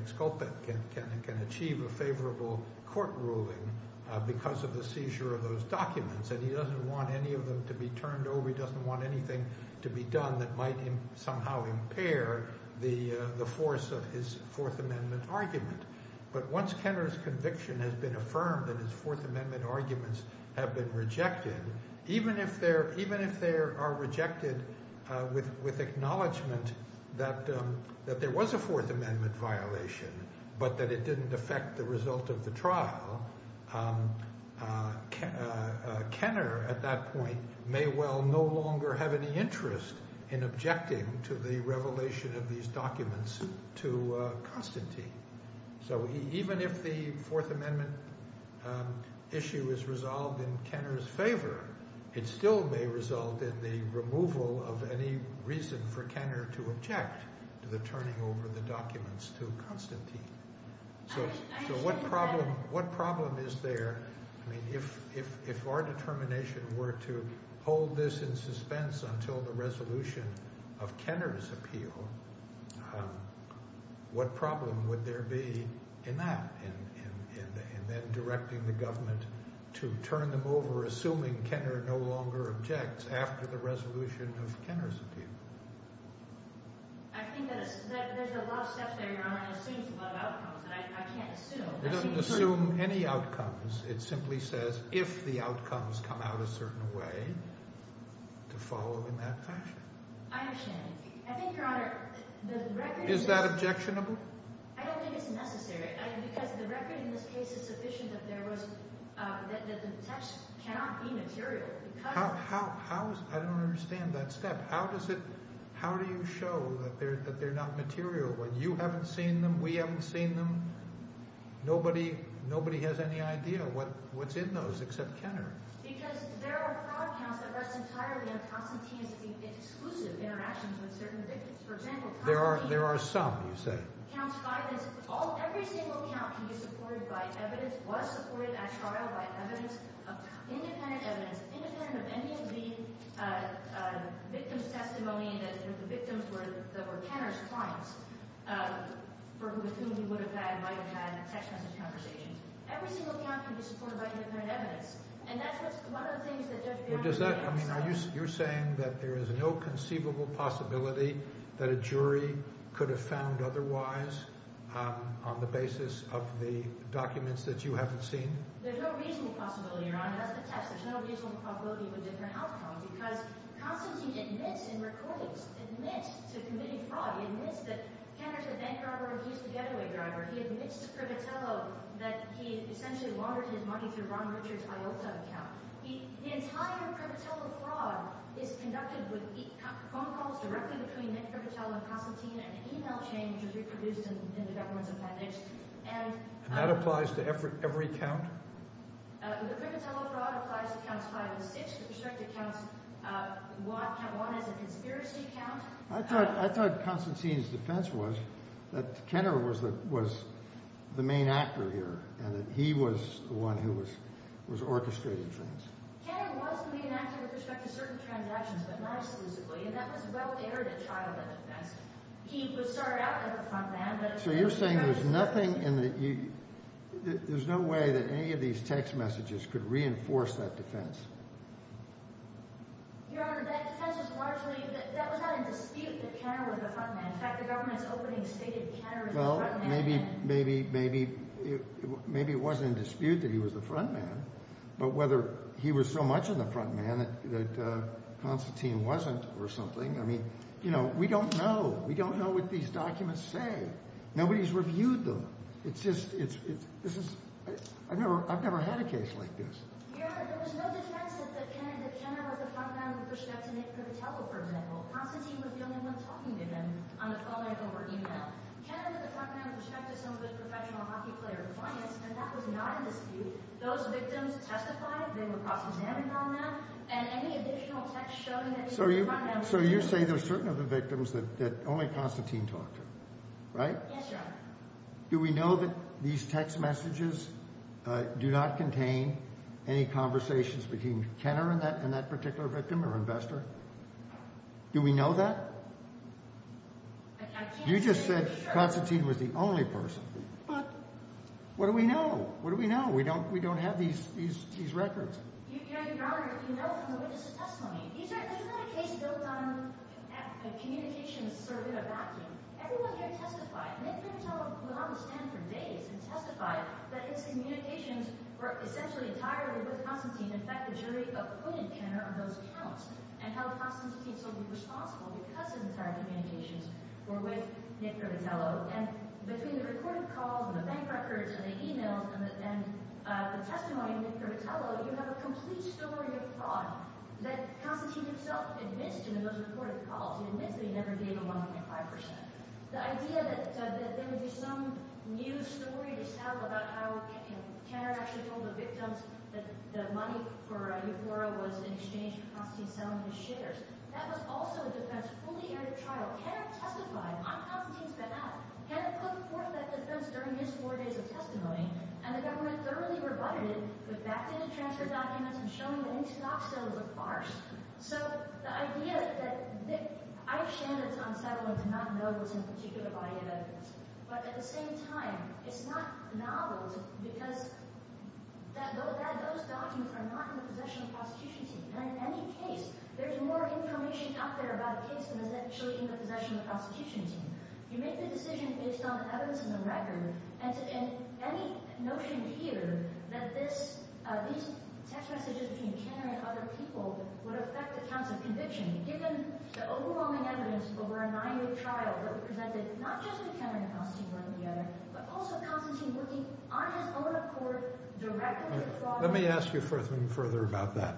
achieve a favorable court ruling because of the seizure of those documents, and he doesn't want any of them to be turned over. He doesn't want anything to be done that might somehow impair the force of his Fourth Amendment argument, but once Kenner's conviction has been affirmed that his Fourth Amendment arguments have been rejected, even if they are rejected with acknowledgment that there was a Fourth Amendment violation, but that it didn't affect the result of the trial, Kenner at that point may well no longer have any interest in objecting to the revelation of these documents to Constantine. So even if the Fourth Amendment issue is resolved in Kenner's favor, it still may result in the removal of any reason for Kenner to object to the turning over of the documents to Constantine. So what problem is there? I mean, if our determination were to hold this in suspense until the resolution of Kenner's appeal, what problem would there be in that, and then directing the government to turn them over assuming Kenner no longer objects after the resolution of Kenner's appeal? I think that there's a lot of stuff there, Your Honor, and assumes a lot of outcomes that I can't assume. It doesn't assume any outcomes. It simply says if the outcomes come out a certain way, to follow in that fashion. I understand. I think, Your Honor, the record is… Is that objectionable? I don't think it's necessary. Because the record in this case is sufficient that the text cannot be material. I don't understand that step. How do you show that they're not material when you haven't seen them, we haven't seen them, nobody has any idea what's in those except Kenner? Because there are fraud counts that rest entirely on Constantine's exclusive interactions with certain victims. There are some, you say. Every single count can be supported by evidence, was supported at trial by evidence, independent evidence, independent of any of the victim's testimony that the victims were Kenner's clients for whom he would have had, might have had, sexist conversations. Every single count can be supported by independent evidence. And that's one of the things that Judge Bannon… You're saying that there is an inconceivable possibility that a jury could have found otherwise on the basis of the documents that you haven't seen? There's no reasonable possibility, Your Honor. That's the text. There's no reasonable possibility of a different outcome. Because Constantine admits in recordings, admits to committing fraud, admits that Kenner's a bank driver and he's a getaway driver. He admits to Privitello that he essentially laundered his money through Ron Richard's Iota account. The entire Privitello fraud is conducted with phone calls directly between Nick Privitello and Constantine and email changes reproduced in the government's appendix. And that applies to every count? The Privitello fraud applies to Counts 5 and 6 with respect to Counts 1. Count 1 is a conspiracy count. I thought Constantine's defense was that Kenner was the main actor here and that he was the one who was orchestrating things. Kenner was the main actor with respect to certain transactions, but not exclusively, and that was well-aired at trial by the defense. He was started out as the front man, but… So you're saying there's nothing in the… There's no way that any of these text messages could reinforce that defense? Your Honor, that defense is largely… That was not in dispute that Kenner was the front man. In fact, the government's opening stated Kenner as the front man. Well, maybe it wasn't in dispute that he was the front man, but whether he was so much in the front man that Constantine wasn't or something, I mean, you know, we don't know. We don't know what these documents say. Nobody's reviewed them. It's just… I've never had a case like this. Your Honor, there was no defense that Kenner was the front man with respect to Nick Privitello, for example. Constantine was the only one talking to him on the phone or email. Kenner was the front man with respect to some of his professional hockey player clients, and that was not in dispute. Those victims testified, they were cross-examined on that, and any additional text showing that he was the front man… So you say there's certain other victims that only Constantine talked to, right? Yes, Your Honor. Do we know that these text messages do not contain any conversations between Kenner and that particular victim or investor? Do we know that? I can't say for sure. You just said Constantine was the only person. But what do we know? What do we know? We don't have these records. Your Honor, if you know from the witness testimony, this is not a case built on a communications circuit of acting. Everyone here testified. Nick Privitello would not stand for days and testify that his communications were essentially entirely with Constantine. In fact, the jury appointed Kenner on those counts and held Constantine solely responsible because his entire communications were with Nick Privitello. And between the recorded calls and the bank records and the e-mails and the testimony of Nick Privitello, you have a complete story of fraud that Constantine himself admits to in those recorded calls. He admits that he never gave a 1.5 percent. The idea that there would be some new story to tell about how Kenner actually told the victims that the money for Euphora was in exchange for Constantine selling his shares, that was also a defense fully aired at trial. Kenner testified on Constantine's behalf. Kenner put forth that defense during his four days of testimony, and the government thoroughly rebutted it, put backdated transfer documents, and showed me that any stock sale was a farce. So the idea that Nick... I understand it's unsettling to not know what's in a particular body of evidence. But at the same time, it's not novel because those documents are not in the possession of the prosecution team. And in any case, there's more information out there about a case than is actually in the possession of the prosecution team. You make the decision based on evidence in the record. And any notion here that these text messages between Kenner and other people would affect the counts of conviction, given the overwhelming evidence over a nine-year trial that presented not just with Kenner and Constantine one or the other, but also Constantine looking on his own accord directly at fraud... Let me ask you further about that.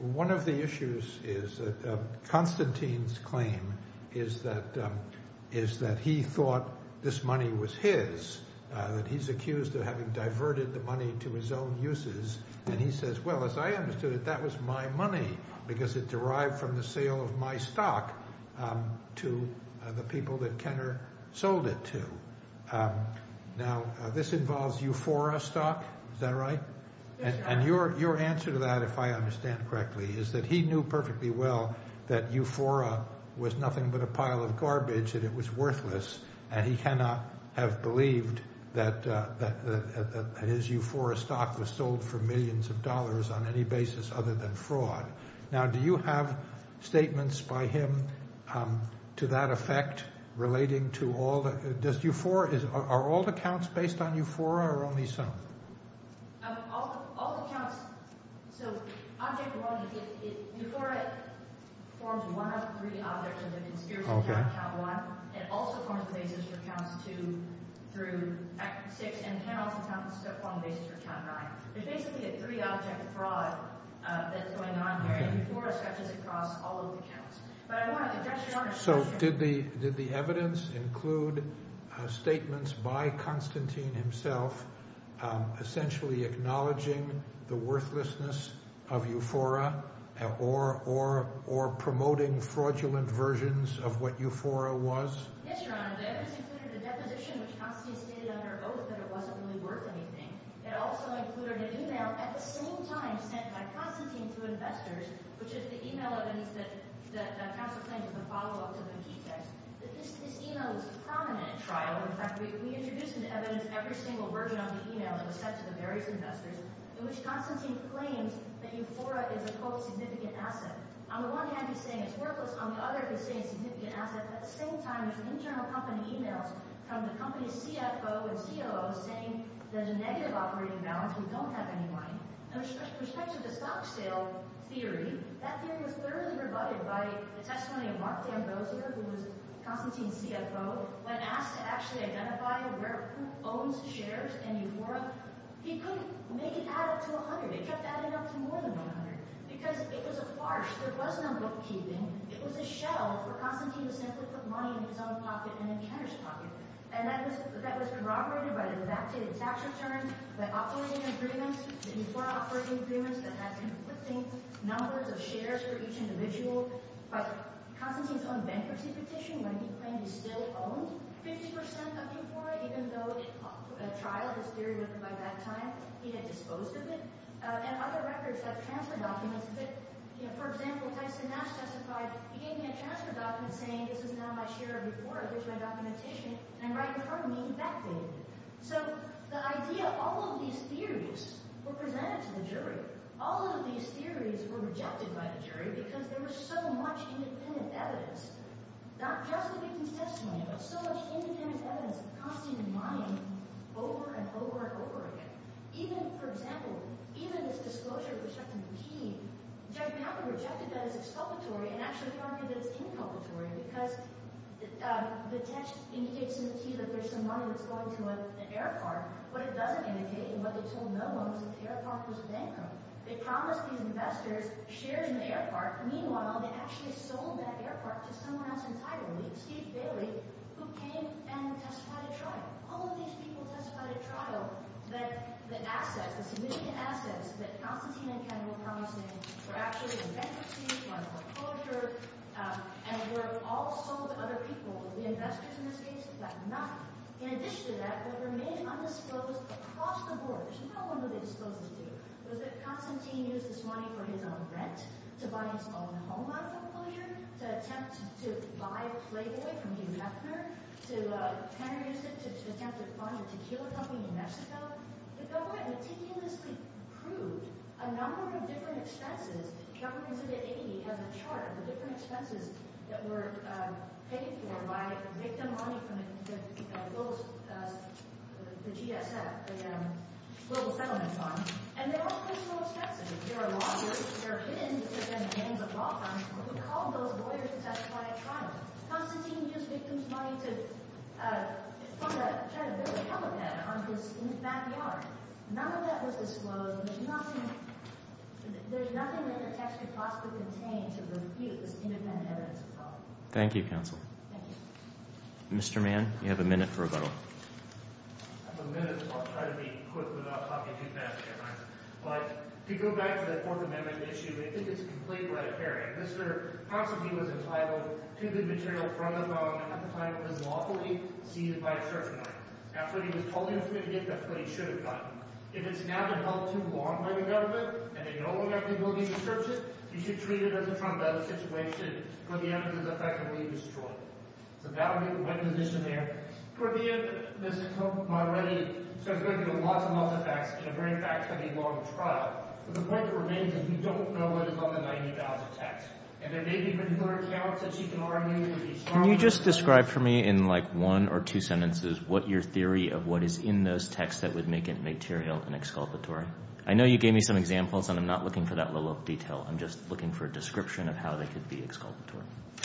One of the issues is that Constantine's claim is that he thought this money was his, that he's accused of having diverted the money to his own uses. And he says, well, as I understood it, that was my money because it derived from the sale of my stock to the people that Kenner sold it to. Now, this involves Euphora stock. Is that right? And your answer to that, if I understand correctly, is that he knew perfectly well that Euphora was nothing but a pile of garbage and it was worthless. And he cannot have believed that his Euphora stock was sold for millions of dollars on any basis other than fraud. Now, do you have statements by him to that effect relating to all the... Does Euphora... Are all the counts based on Euphora or only some? All the counts... So, object one, Euphora forms one of the three objects of the conspiracy count, count one. It also forms the basis for counts two through six, and Kenner also forms the basis for count nine. There's basically a three-object fraud that's going on here and Euphora stretches across all of the counts. So, did the evidence include statements by Constantine himself essentially acknowledging the worthlessness of Euphora or promoting fraudulent versions of what Euphora was? Yes, Your Honor. The evidence included a deposition which Constantine stated under oath that it wasn't really worth anything. It also included an email at the same time sent by Constantine to investors, which is the email evidence that counsel claims is a follow-up to the G-text. This email was prominent at trial. In fact, we introduced into evidence every single version of the email that was sent to the various investors in which Constantine claims that Euphora is a, quote, significant asset. On the one hand, he's saying it's worthless. On the other, he's saying it's a significant asset. At the same time, there's internal company emails from the company's CFO and COO saying there's a negative operating balance. We don't have any money. With respect to the stock sale theory, that theory was thoroughly rebutted by the testimony of Mark D'Ambrosio, who was Constantine's CFO. When asked to actually identify who owns shares in Euphora, he couldn't make it add up to 100. It kept adding up to more than 100 because it was a farce. There was no bookkeeping. It was a shell where Constantine was sent to put money in his own pocket and in Kenner's pocket. That was corroborated by the debated tax return, by operating agreements, the Euphora operating agreements that had conflicting numbers of shares for each individual. By Constantine's own bankruptcy petition, when he claimed he still owned 50% of Euphora, even though a trial had steered him by that time, he had disposed of it. And other records, like transfer documents, that, for example, Tyson Nash testified he gave me a transfer document saying this is now my share of Euphora, which my documentation, and right in front of me, backdated it. So the idea, all of these theories were presented to the jury. All of these theories were rejected by the jury because there was so much independent evidence, not just the victim's testimony, but so much independent evidence of Constantine and money over and over and over again. Even, for example, even his disclosure of rejecting the key, Judge McAvoy rejected that as exculpatory and actually argued that it's inculpatory because the text indicates in the key that there's some money that's going to an air park, but it doesn't indicate, and what they told no one was that the air park was bankrupt. They promised these investors shares in the air park. Meanwhile, they actually sold that air park to someone else entirely, Steve Bailey, who came and testified at trial. All of these people testified at trial that the assets, the significant assets that Constantine and Kendall promised him were actually in bankruptcy, were under foreclosure, and were all sold to other people, the investors, in this case, got nothing. In addition to that, what remained undisclosed across the borders, no one really disclosed this to you, was that Constantine used his money for his own rent, to buy his own home out of foreclosure, to attempt to buy Playboy from Hugh Mefner, to try to use it to attempt to fund a tequila company in Mexico. The government meticulously proved a number of different expenses. The government exhibit 80 has a chart of the different expenses that were paid in particular by victim money from the GSF, the Global Settlement Fund, and they're all pretty self-explanatory. There are lawyers, there are hidden independent names of law firms who called those lawyers to testify at trial. Constantine used victim's money to try to build a helipad on his backyard. None of that was disclosed. There's nothing that the text could possibly contain to refute this independent evidence of fraud. Thank you, Counsel. Thank you. Mr. Mann, you have a minute for rebuttal. I have a minute, so I'll try to be quick without talking too fast, but to go back to the Fourth Amendment issue, I think it's completely unfair. Mr. Constantine was entitled to the material from the phone at the time of his lawful leave, seized by a search warrant. After he was told he was going to get that, he should have gotten it. If it's now been held too long by the government, and they no longer have the ability to search it, you should treat it as a trombone situation where the evidence is effectively destroyed. So that would be the right position there. For the end, Ms. Comaretti starts going through lots and lots of facts in a very fact-heavy, long trial. But the point that remains is we don't know what is on the $90,000 text. And there may be particular accounts that she can argue to be strong enough... Can you just describe for me in, like, one or two sentences what your theory of what is in those texts that would make it material and exculpatory? I know you gave me some examples, and I'm not looking for that level of detail. I'm just looking for a description of how they could be exculpatory.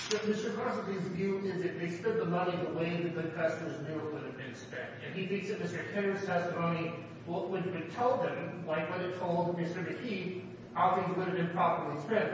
But Mr. Constantine's view is that they spent the money the way that the investors knew it would have been spent. And he thinks that Mr. Kenner's testimony, what it would tell them, like what it told Mr. DeKeefe, how things would have been properly spent.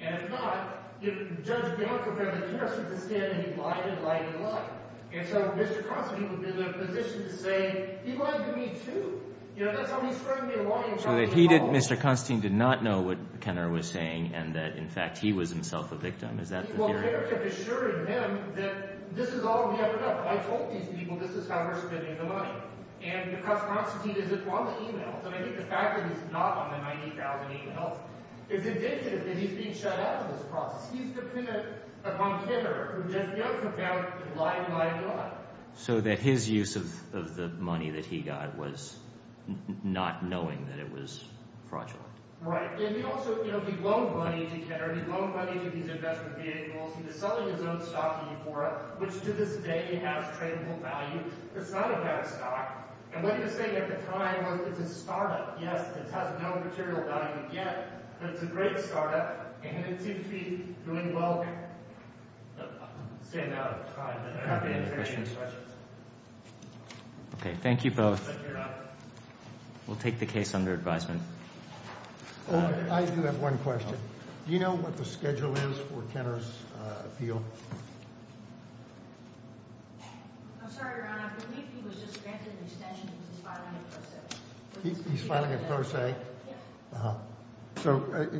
And if not, Judge Bianco said that the investors had been standing and he lied and lied and lied. And so Mr. Constantine would be in a position to say, he lied to me, too. You know, that's how he spread me a lie... So that he didn't, Mr. Constantine, did not know what Kenner was saying and that, in fact, he was himself a victim. Is that the theory? Well, Kenner kept assuring him that this is all we ever know. I told these people this is how we're spending the money. And Mr. Constantine is upon the e-mails. And I think the fact that he's not on the 90,000 e-mails is indicative that he's being shut out of this process. He's the kind of, upon Kenner, who just knows about lying, lying, lying. So that his use of the money that he got was not knowing that it was fraudulent. Right. And he also, you know, he loaned money to Kenner. He loaned money to these investment vehicles. He was selling his own stock to Euphora, which, to this day, has tradable value. It's not a bad stock. And what he was saying at the time was it's a startup. Yes, it has no material value yet, but it's a great startup. And it seems to be doing well. I'm staying out of time, but I'm happy to answer any questions. Okay, thank you both. Thank you, Your Honor. We'll take the case under advisement. I do have one question. Do you know what the schedule is for Kenner's appeal? I'm sorry, Your Honor. I believe he was just granted an extension because he's filing a pro se. Yes. Uh-huh.